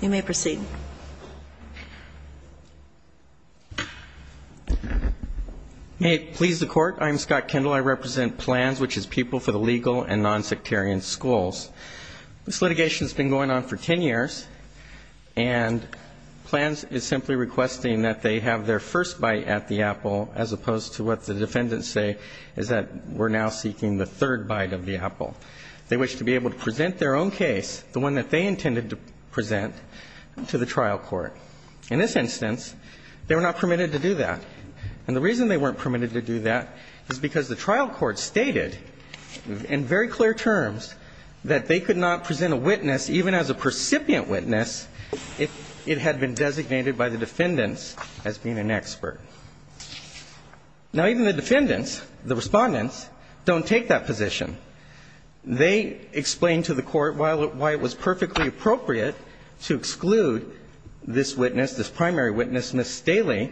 You may proceed. May it please the Court, I'm Scott Kendall. I represent PLANS, which is People for the Legal and Nonsectarian Schools. This litigation has been going on for ten years, and PLANS is simply requesting that they have their first bite at the apple, as opposed to what the defendants say is that we're now seeking the third bite of the apple. They wish to be able to present their own case, the one that they intended to present, to the Supreme Court. In this instance, they were not permitted to do that. And the reason they weren't permitted to do that is because the trial court stated in very clear terms that they could not present a witness, even as a percipient witness, if it had been designated by the defendants as being an expert. Now, even the defendants, the Respondents, don't take that position. They explain to the Court why it was perfectly appropriate to exclude this witness, this primary witness, Ms. Staley,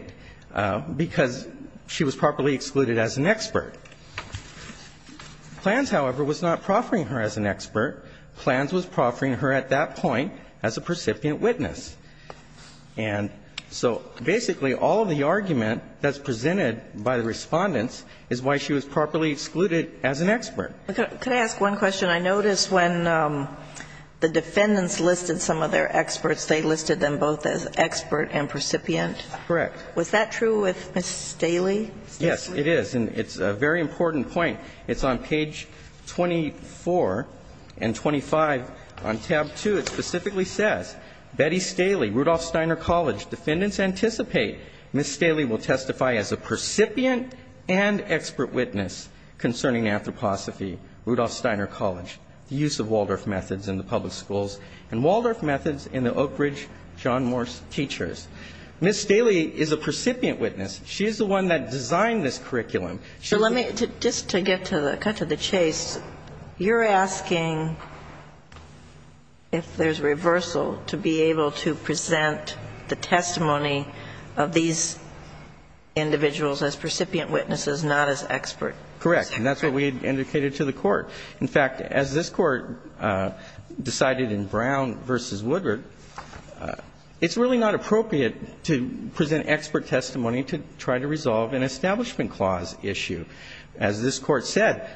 because she was properly excluded as an expert. PLANS, however, was not proffering her as an expert. PLANS was proffering her at that point as a percipient witness. And so basically all of the argument that's presented by the Respondents is why she was properly excluded as an expert. Could I ask one question? I noticed when the defendants listed some of their experts, they listed them both as expert and percipient. Correct. Was that true with Ms. Staley? Yes, it is. And it's a very important point. It's on page 24 and 25 on tab 2. It specifically says, Ms. Staley will testify as a percipient and expert witness concerning Anthroposophy, Rudolf Steiner College, the use of Waldorf Methods in the public schools, and Waldorf Methods in the Oak Ridge John Morse teachers. Ms. Staley is a percipient witness. She is the one that designed this curriculum. So let me, just to cut to the chase, you're asking if there's reversal to be able to present the testimony of these individuals as percipient witnesses, not as expert. Correct. And that's what we indicated to the Court. In fact, as this Court decided in Brown v. Woodward, it's really not appropriate to present expert testimony to try to resolve an Establishment Clause issue. As this Court said,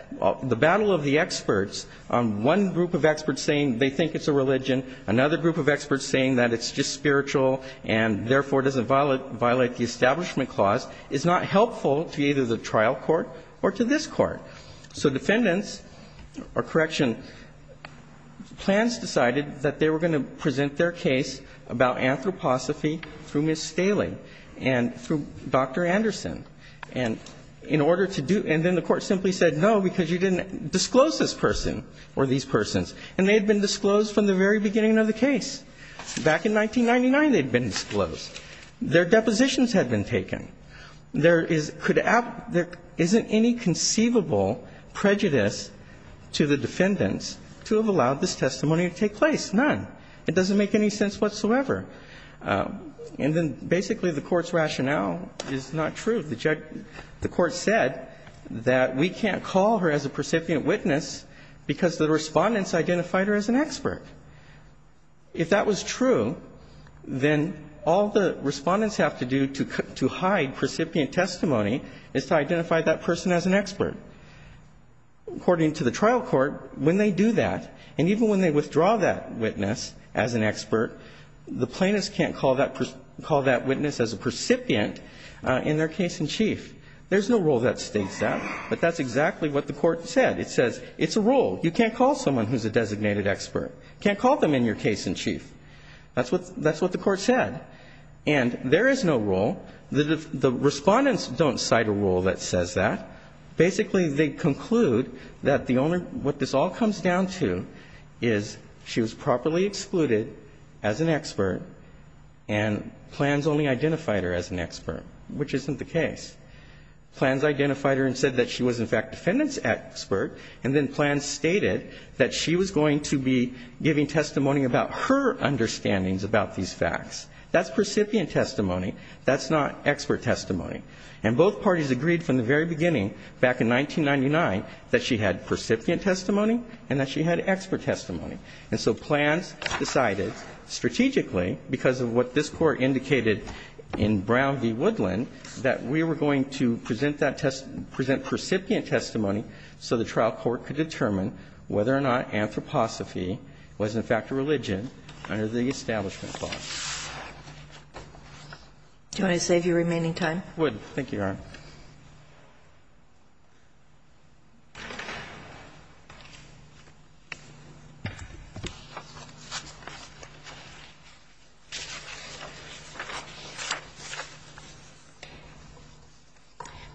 the battle of the experts, one group of experts saying they think it's a religion, another group of experts saying that it's just spiritual and therefore doesn't violate the Establishment Clause, is not helpful to either the trial court or to this Court. So defendants, or correction, plans decided that they were going to present their case about Anthroposophy through Ms. Staley and through Dr. Anderson. And in order to do, and then the Court simply said, no, because you didn't disclose this person or these persons. And they had been disclosed from the very beginning of the case. Back in 1999, they'd been disclosed. Their depositions had been taken. There is, could, there isn't any conceivable prejudice to the defendants to have allowed this testimony to take place. None. It doesn't make any sense whatsoever. And then basically the Court's rationale is not true. The judge, the Court said that we can't call her as a percipient witness because the Respondents identified her as an expert. If that was true, then all the Respondents have to do to hide precipient testimony is to identify that person as an expert. According to the trial court, when they do that, and even when they withdraw that witness as an expert, the plaintiffs can't call that witness as a precipient in their case in chief. There's no rule that states that, but that's exactly what the Court said. It says it's a rule. You can't call someone who's a designated expert. You can't call them in your case in chief. That's what the Court said. And there is no rule. The Respondents don't cite a rule that says that. Basically, they conclude that the only, what this all comes down to is she was properly excluded as an expert and Plans only identified her as an expert, which isn't the case. Plans identified her and said that she was, in fact, defendant's expert. And then Plans stated that she was going to be giving testimony about her understandings about these facts. That's precipient testimony. That's not expert testimony. And both parties agreed from the very beginning back in 1999 that she had precipient testimony and that she had expert testimony. And so Plans decided strategically, because of what this Court indicated in Brown v. Brown, that she was going to present that test, present precipient testimony so the trial court could determine whether or not anthroposophy was, in fact, a religion under the Establishment Clause. Do you want to save your remaining time? I would. Thank you, Your Honor.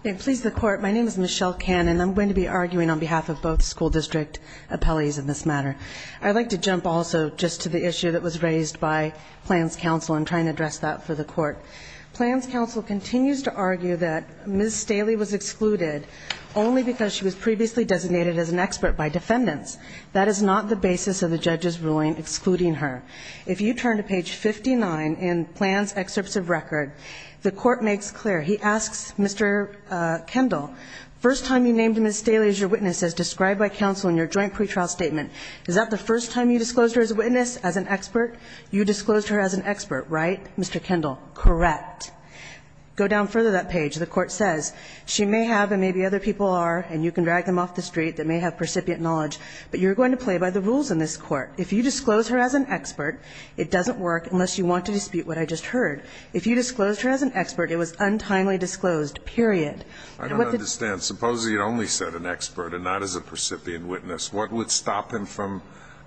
May it please the Court. My name is Michelle Cannon. I'm going to be arguing on behalf of both school district appellees in this matter. I'd like to jump also just to the issue that was raised by Plans counsel in trying to address that for the Court. Plans counsel continues to argue that Ms. Staley was excluded only because she was previously designated as an expert by defendants. That is not the basis of the judge's ruling excluding her. If you turn to page 59 in Plans excerpts of record, the Court makes clear. He asks Mr. Kendall, first time you named Ms. Staley as your witness as described by counsel in your joint pretrial statement, is that the first time you disclosed her as a witness, as an expert? You disclosed her as an expert, right, Mr. Kendall? Correct. Go down further that page. The Court says she may have, and maybe other people are, and you can drag them off the street, that may have percipient knowledge. But you're going to play by the rules in this Court. If you disclose her as an expert, it doesn't work unless you want to dispute what I just heard. If you disclosed her as an expert, it was untimely disclosed, period. I don't understand. Suppose he had only said an expert and not as a percipient witness. What would stop him from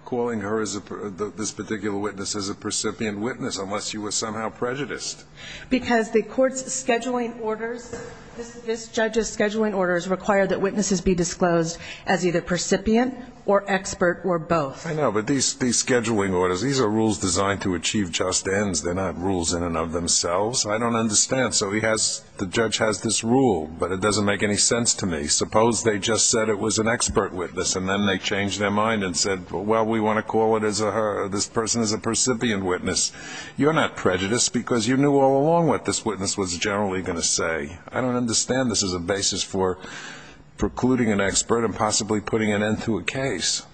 calling her as a per – this particular witness as a percipient witness unless you were somehow prejudiced? Because the Court's scheduling orders, this judge's scheduling orders require that witnesses be disclosed as either percipient or expert or both. I know. But these scheduling orders, these are rules designed to achieve just ends. They're not rules in and of themselves. I don't understand. So he has – the judge has this rule, but it doesn't make any sense to me. Suppose they just said it was an expert witness, and then they changed their mind and said, well, we want to call it as a her. Ms. Staley, you're not prejudiced because you knew all along what this witness was generally going to say. I don't understand this as a basis for precluding an expert and possibly putting an end to a case.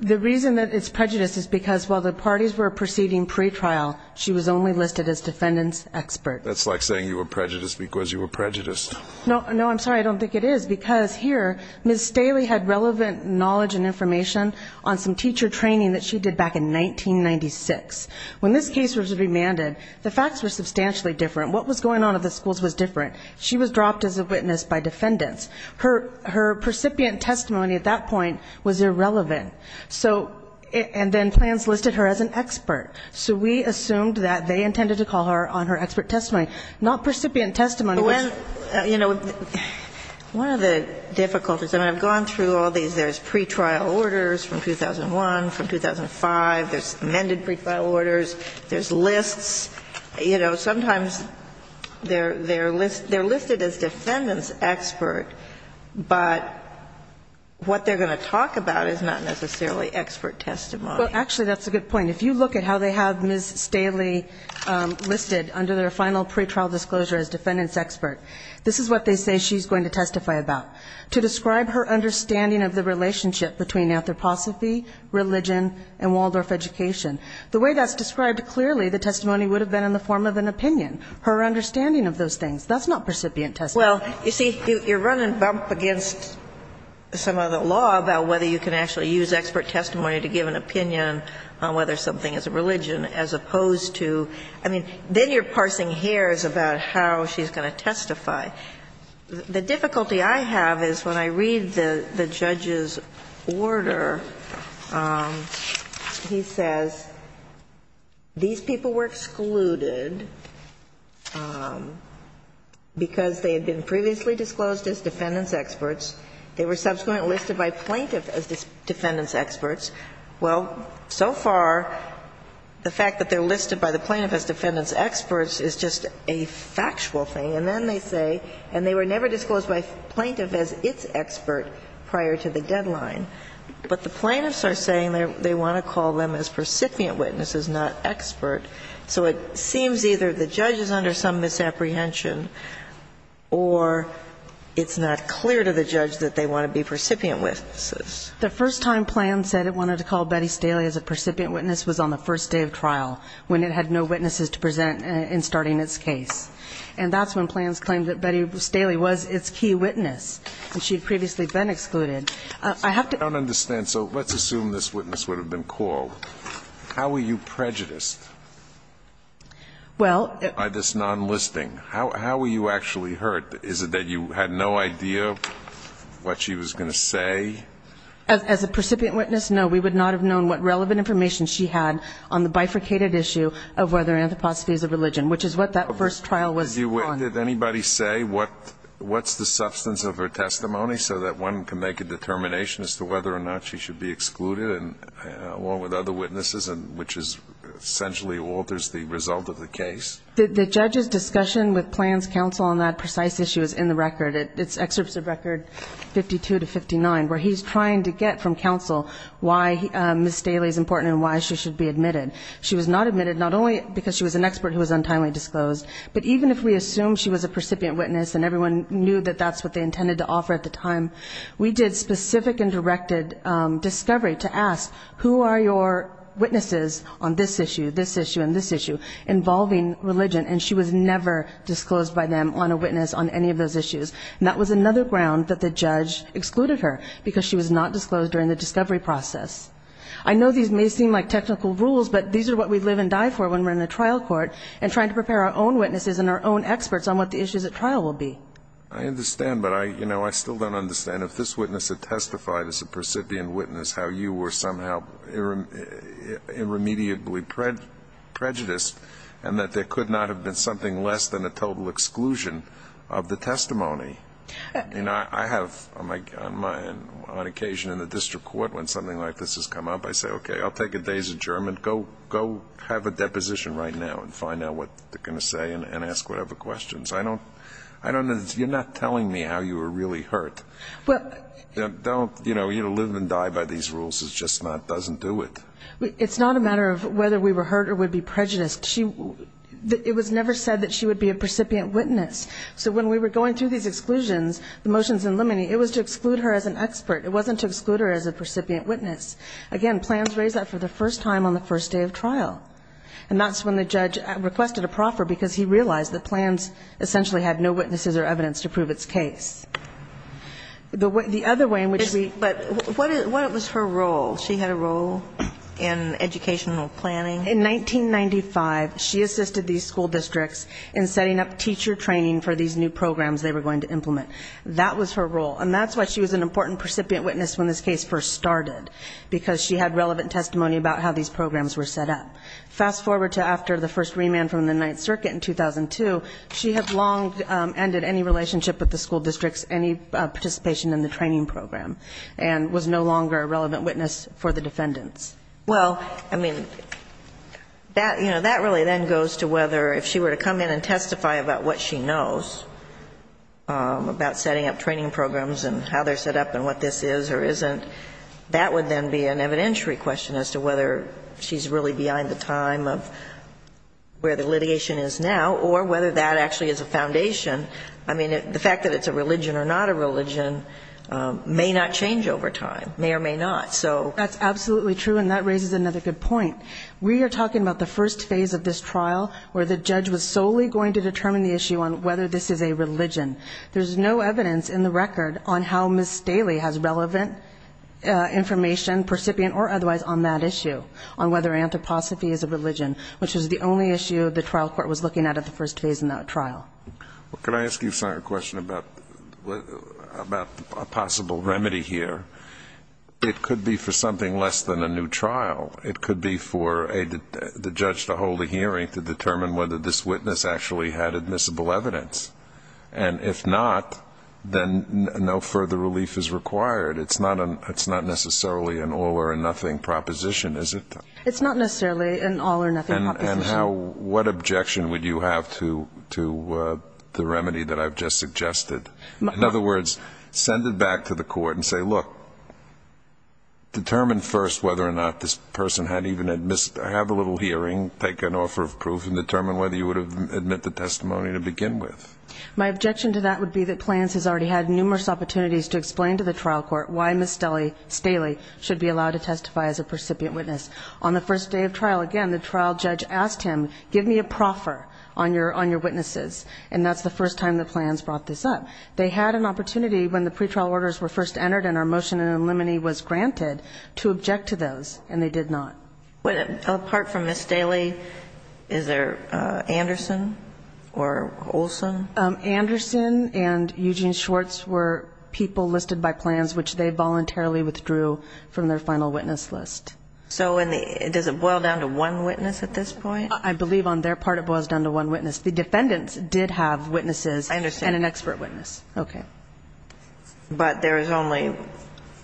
The reason that it's prejudiced is because while the parties were proceeding pretrial, she was only listed as defendant's expert. That's like saying you were prejudiced because you were prejudiced. No, I'm sorry. I don't think it is. Because here, Ms. Staley had relevant knowledge and information on some teacher training that she did back in 1996. When this case was remanded, the facts were substantially different. What was going on at the schools was different. She was dropped as a witness by defendants. Her – her precipient testimony at that point was irrelevant. So – and then plans listed her as an expert. So we assumed that they intended to call her on her expert testimony, not precipient testimony, which – But when – you know, one of the difficulties – I mean, I've gone through all these. There's pretrial orders from 2001, from 2005. There's amended pretrial orders. There's lists. You know, sometimes they're – they're listed – they're listed as defendant's expert, but what they're going to talk about is not necessarily expert testimony. Well, actually, that's a good point. If you look at how they have Ms. Staley listed under their final pretrial disclosure as defendant's expert, this is what they say she's going to testify about. To describe her understanding of the relationship between anthroposophy, religion, and Waldorf education. The way that's described clearly, the testimony would have been in the form of an opinion. Her understanding of those things. That's not precipient testimony. Well, you see, you're running bump against some of the law about whether you can actually use expert testimony to give an opinion on whether something is a religion as opposed to – I mean, then you're parsing hairs about how she's going to testify. The difficulty I have is when I read the judge's order, he says these people were excluded because they had been previously disclosed as defendant's experts. They were subsequently listed by plaintiff as defendant's experts. Well, so far, the fact that they're listed by the plaintiff as defendant's experts is just a factual thing. And then they say, and they were never disclosed by plaintiff as its expert prior to the deadline. But the plaintiffs are saying they want to call them as percipient witnesses, not expert. So it seems either the judge is under some misapprehension or it's not clear to the judge that they want to be percipient witnesses. The first time Planned said it wanted to call Betty Staley as a percipient witness was on the first day of trial, when it had no witnesses to present in starting its case. And that's when Planned claimed that Betty Staley was its key witness, and she had previously been excluded. I have to ---- I don't understand. So let's assume this witness would have been called. How were you prejudiced by this nonlisting? How were you actually hurt? Is it that you had no idea what she was going to say? As a percipient witness, no. We would not have known what relevant information she had on the bifurcated issue of whether anthroposophy is a religion, which is what that first trial was on. Did anybody say what's the substance of her testimony so that one can make a determination as to whether or not she should be excluded, along with other witnesses, which essentially alters the result of the case? The judge's discussion with Planned's counsel on that precise issue is in the record. It's excerpts of record 52 to 59, where he's trying to get from counsel why Ms. Staley is important and why she should be admitted. She was not admitted, not only because she was an expert who was untimely disclosed, but even if we assume she was a percipient witness and everyone knew that that's what they intended to offer at the time, we did specific and directed discovery to ask, who are your witnesses on this issue, this issue, and this issue involving religion? And she was never disclosed by them on a witness on any of those issues. And that was another ground that the judge excluded her, because she was not disclosed during the discovery process. I know these may seem like technical rules, but these are what we live and die for when we're in a trial court and trying to prepare our own witnesses and our own experts on what the issues at trial will be. I understand, but I still don't understand. If this witness had testified as a percipient witness, how you were somehow irremediably prejudiced and that there could not have been something less than a total exclusion of the testimony. You know, I have on occasion in the district court when something like this has come up, I say, okay, I'll take a day's adjournment, go have a deposition right now and find out what they're going to say and ask whatever questions. You're not telling me how you were really hurt. Don't, you know, you live and die by these rules. It just doesn't do it. It's not a matter of whether we were hurt or would be prejudiced. It was never said that she would be a percipient witness. So when we were going through these exclusions, the motions in limine, it was to exclude her as an expert. It wasn't to exclude her as a percipient witness. Again, plans raise that for the first time on the first day of trial. And that's when the judge requested a proffer because he realized that plans essentially had no witnesses or evidence to prove its case. The other way in which we ---- But what was her role? She had a role in educational planning? In 1995, she assisted these school districts in setting up teacher training for these new programs they were going to implement. That was her role. And that's why she was an important percipient witness when this case first started because she had relevant testimony about how these programs were set up. Fast forward to after the first remand from the Ninth Circuit in 2002, she had long ended any relationship with the school districts, any participation in the training program and was no longer a relevant witness for the defendants. Well, I mean, that really then goes to whether if she were to come in and testify about what she knows about setting up training programs and how they're set up and what this is or isn't, that would then be an evidentiary question as to whether she's really behind the time of where the litigation is now or whether that actually is a foundation. I mean, the fact that it's a religion or not a religion may not change over time, may or may not. That's absolutely true, and that raises another good point. We are talking about the first phase of this trial where the judge was solely going to determine the issue on whether this is a religion. There's no evidence in the record on how Ms. Staley has relevant information, percipient or otherwise, on that issue, on whether anthroposophy is a religion, which is the only issue the trial court was looking at at the first phase in that trial. Can I ask you a question about a possible remedy here? It could be for something less than a new trial. It could be for the judge to hold a hearing to determine whether this witness actually had admissible evidence. And if not, then no further relief is required. It's not necessarily an all-or-nothing proposition, is it? It's not necessarily an all-or-nothing proposition. And what objection would you have to the remedy that I've just suggested? In other words, send it back to the court and say, look, determine first whether or not this person had even had a little hearing, take an offer of proof, and determine whether you would have admit the testimony to begin with. My objection to that would be that Plans has already had numerous opportunities to explain to the trial court why Ms. Staley should be allowed to testify as a percipient witness. On the first day of trial, again, the trial judge asked him, give me a proffer on your witnesses, and that's the first time that Plans brought this up. They had an opportunity when the pretrial orders were first entered and our motion in limine was granted to object to those, and they did not. Apart from Ms. Staley, is there Anderson or Olson? Anderson and Eugene Schwartz were people listed by Plans, which they voluntarily withdrew from their final witness list. So does it boil down to one witness at this point? I believe on their part it boils down to one witness. The defendants did have witnesses and an expert witness. Okay. But there is only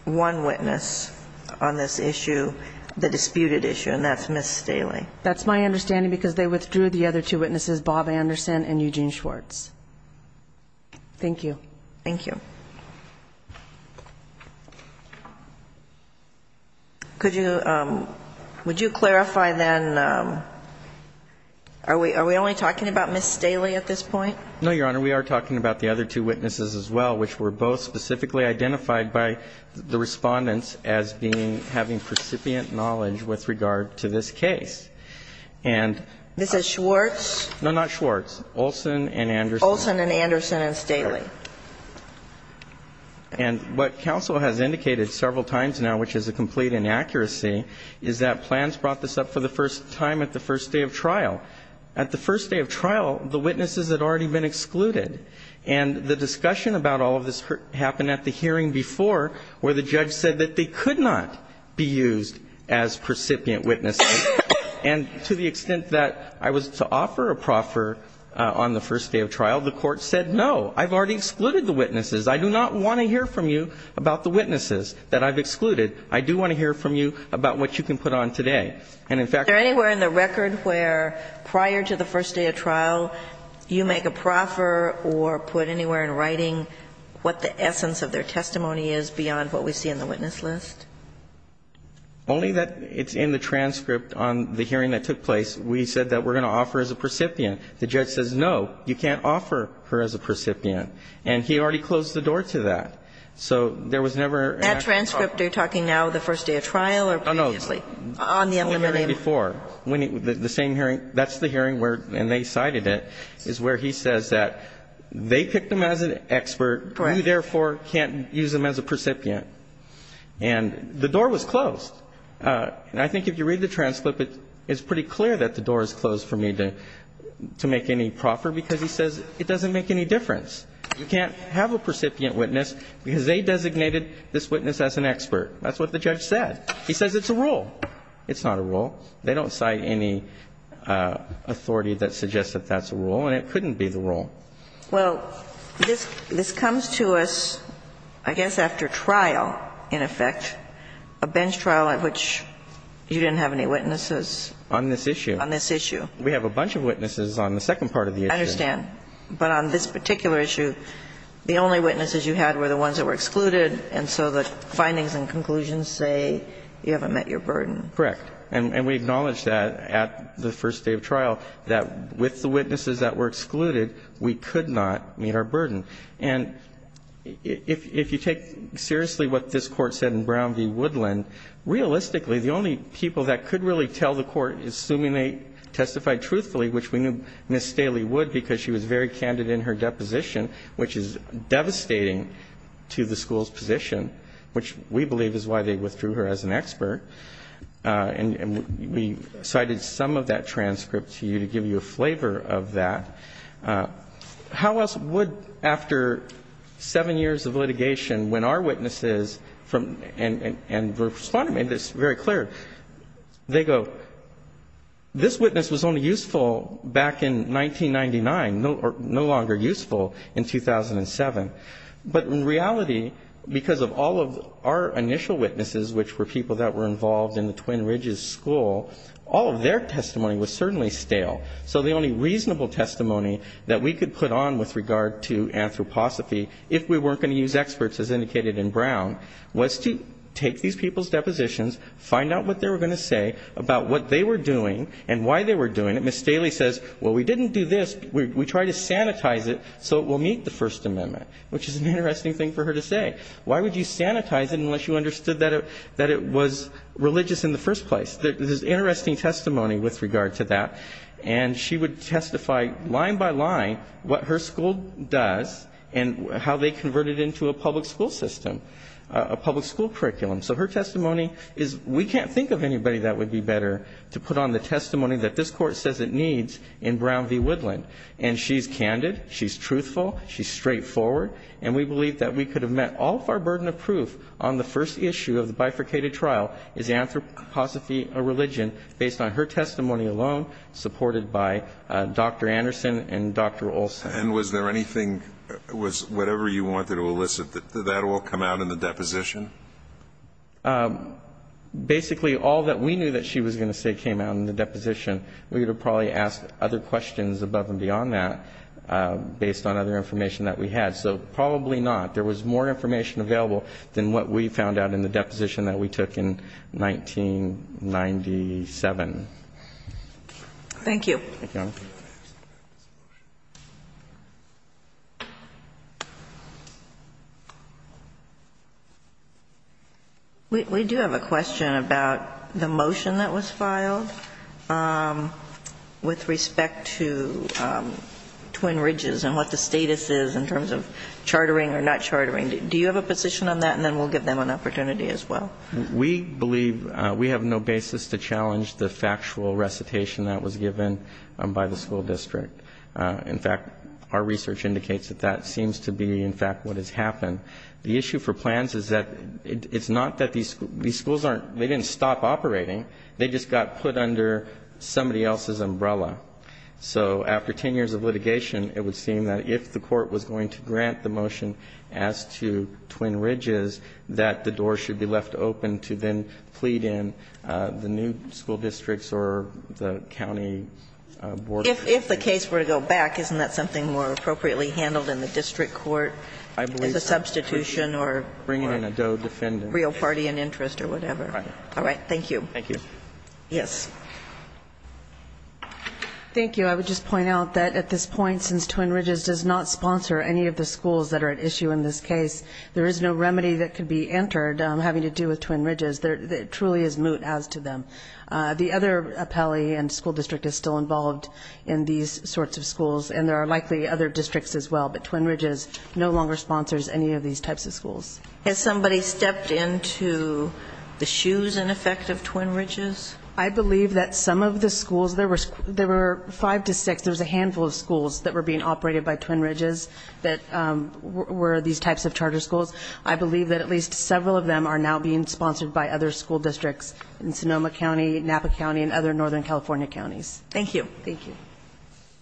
one witness on this issue, the disputed issue, and that's Ms. Staley. That's my understanding because they withdrew the other two witnesses, Bob Anderson and Eugene Schwartz. Thank you. Thank you. Could you clarify then, are we only talking about Ms. Staley at this point? No, Your Honor. We are talking about the other two witnesses as well, which were both specifically identified by the Respondents as being having precipient knowledge with regard to this case. And Ms. Schwartz? No, not Schwartz. Olson and Anderson. Olson and Anderson and Staley. And what counsel has indicated several times now, which is a complete inaccuracy, is that Plans brought this up for the first time at the first day of trial. At the first day of trial, the witnesses had already been excluded. And the discussion about all of this happened at the hearing before where the judge said that they could not be used as precipient witnesses. And to the extent that I was to offer a proffer on the first day of trial, the Court said, no, I've already excluded the witnesses. I do not want to hear from you about the witnesses that I've excluded. I do want to hear from you about what you can put on today. And, in fact, I'm not going to. Are there anywhere in the record where prior to the first day of trial you make a proffer or put anywhere in writing what the essence of their testimony is beyond what we see in the witness list? Only that it's in the transcript on the hearing that took place. We said that we're going to offer as a precipient. The judge says, no, you can't offer her as a precipient. And he already closed the door to that. So there was never an actual proffer. That transcript, you're talking now the first day of trial or previously? On the unlimited. Before. The same hearing. That's the hearing where, and they cited it, is where he says that they picked them as an expert. Correct. You, therefore, can't use them as a precipient. And the door was closed. And I think if you read the transcript, it's pretty clear that the door is closed for me to make any proffer because he says it doesn't make any difference. You can't have a precipient witness because they designated this witness as an expert. That's what the judge said. He says it's a rule. It's not a rule. They don't cite any authority that suggests that that's a rule. And it couldn't be the rule. Well, this comes to us, I guess, after trial, in effect, a bench trial at which you didn't have any witnesses. On this issue. On this issue. We have a bunch of witnesses on the second part of the issue. I understand. But on this particular issue, the only witnesses you had were the ones that were excluded. And so the findings and conclusions say you haven't met your burden. Correct. And we acknowledge that at the first day of trial, that with the witnesses that were excluded, we could not meet our burden. And if you take seriously what this Court said in Brown v. Woodland, realistically the only people that could really tell the Court, assuming they testified truthfully, which we knew Ms. Staley would because she was very candid in her deposition, which is devastating to the school's position, which we believe is why they withdrew her as an expert. And we cited some of that transcript to you to give you a flavor of that. How else would, after seven years of litigation, when our witnesses and Respondent made this very clear, they go, this witness was only useful back in 1999, no longer useful in 2007. But in reality, because of all of our initial witnesses, which were people that were involved in the Twin Ridges School, all of their testimony was certainly stale. So the only reasonable testimony that we could put on with regard to anthroposophy, if we weren't going to use experts as indicated in Brown, was to take these people's depositions, find out what they were going to say about what they were doing and why they were doing it. And Ms. Staley says, well, we didn't do this. We tried to sanitize it so it will meet the First Amendment, which is an interesting thing for her to say. Why would you sanitize it unless you understood that it was religious in the first place? There's interesting testimony with regard to that. And she would testify line by line what her school does and how they convert it into a public school system, a public school curriculum. So her testimony is we can't think of anybody that would be better to put on the testimony that this Court says it needs in Brown v. Woodland. And she's candid. She's truthful. She's straightforward. And we believe that we could have met all of our burden of proof on the first issue of the bifurcated trial, is anthroposophy a religion, based on her testimony alone, supported by Dr. Anderson and Dr. Olson. And was there anything, was whatever you wanted to elicit, did that all come out in the deposition? Basically, all that we knew that she was going to say came out in the deposition. We would have probably asked other questions above and beyond that, based on other information that we had. So probably not. There was more information available than what we found out in the deposition Thank you. Thank you, Your Honor. We do have a question about the motion that was filed with respect to Twin Ridges and what the status is in terms of chartering or not chartering. Do you have a position on that? And then we'll give them an opportunity as well. We believe we have no basis to challenge the factual recitation that was given by the school district. In fact, our research indicates that that seems to be, in fact, what has happened. The issue for plans is that it's not that these schools aren't, they didn't stop operating. They just got put under somebody else's umbrella. So after 10 years of litigation, it would seem that if the court was going to grant the motion as to Twin Ridges, that the door should be left open to then plead in the new school districts or the county board. If the case were to go back, isn't that something more appropriately handled in the district court as a substitution or real party in interest or whatever? Right. All right. Thank you. Thank you. Yes. Thank you. I would just point out that at this point, since Twin Ridges does not sponsor any of the schools that are at issue in this case, there is no remedy that could be entered having to do with Twin Ridges. It truly is moot as to them. The other appellee and school district is still involved in these sorts of schools, and there are likely other districts as well. But Twin Ridges no longer sponsors any of these types of schools. Has somebody stepped into the shoes, in effect, of Twin Ridges? I believe that some of the schools, there were five to six, there was a handful of schools that were being operated by Twin Ridges that were these types of charter schools. I believe that at least several of them are now being sponsored by other school districts in Sonoma County, Napa County, and other northern California counties. Thank you. Thank you.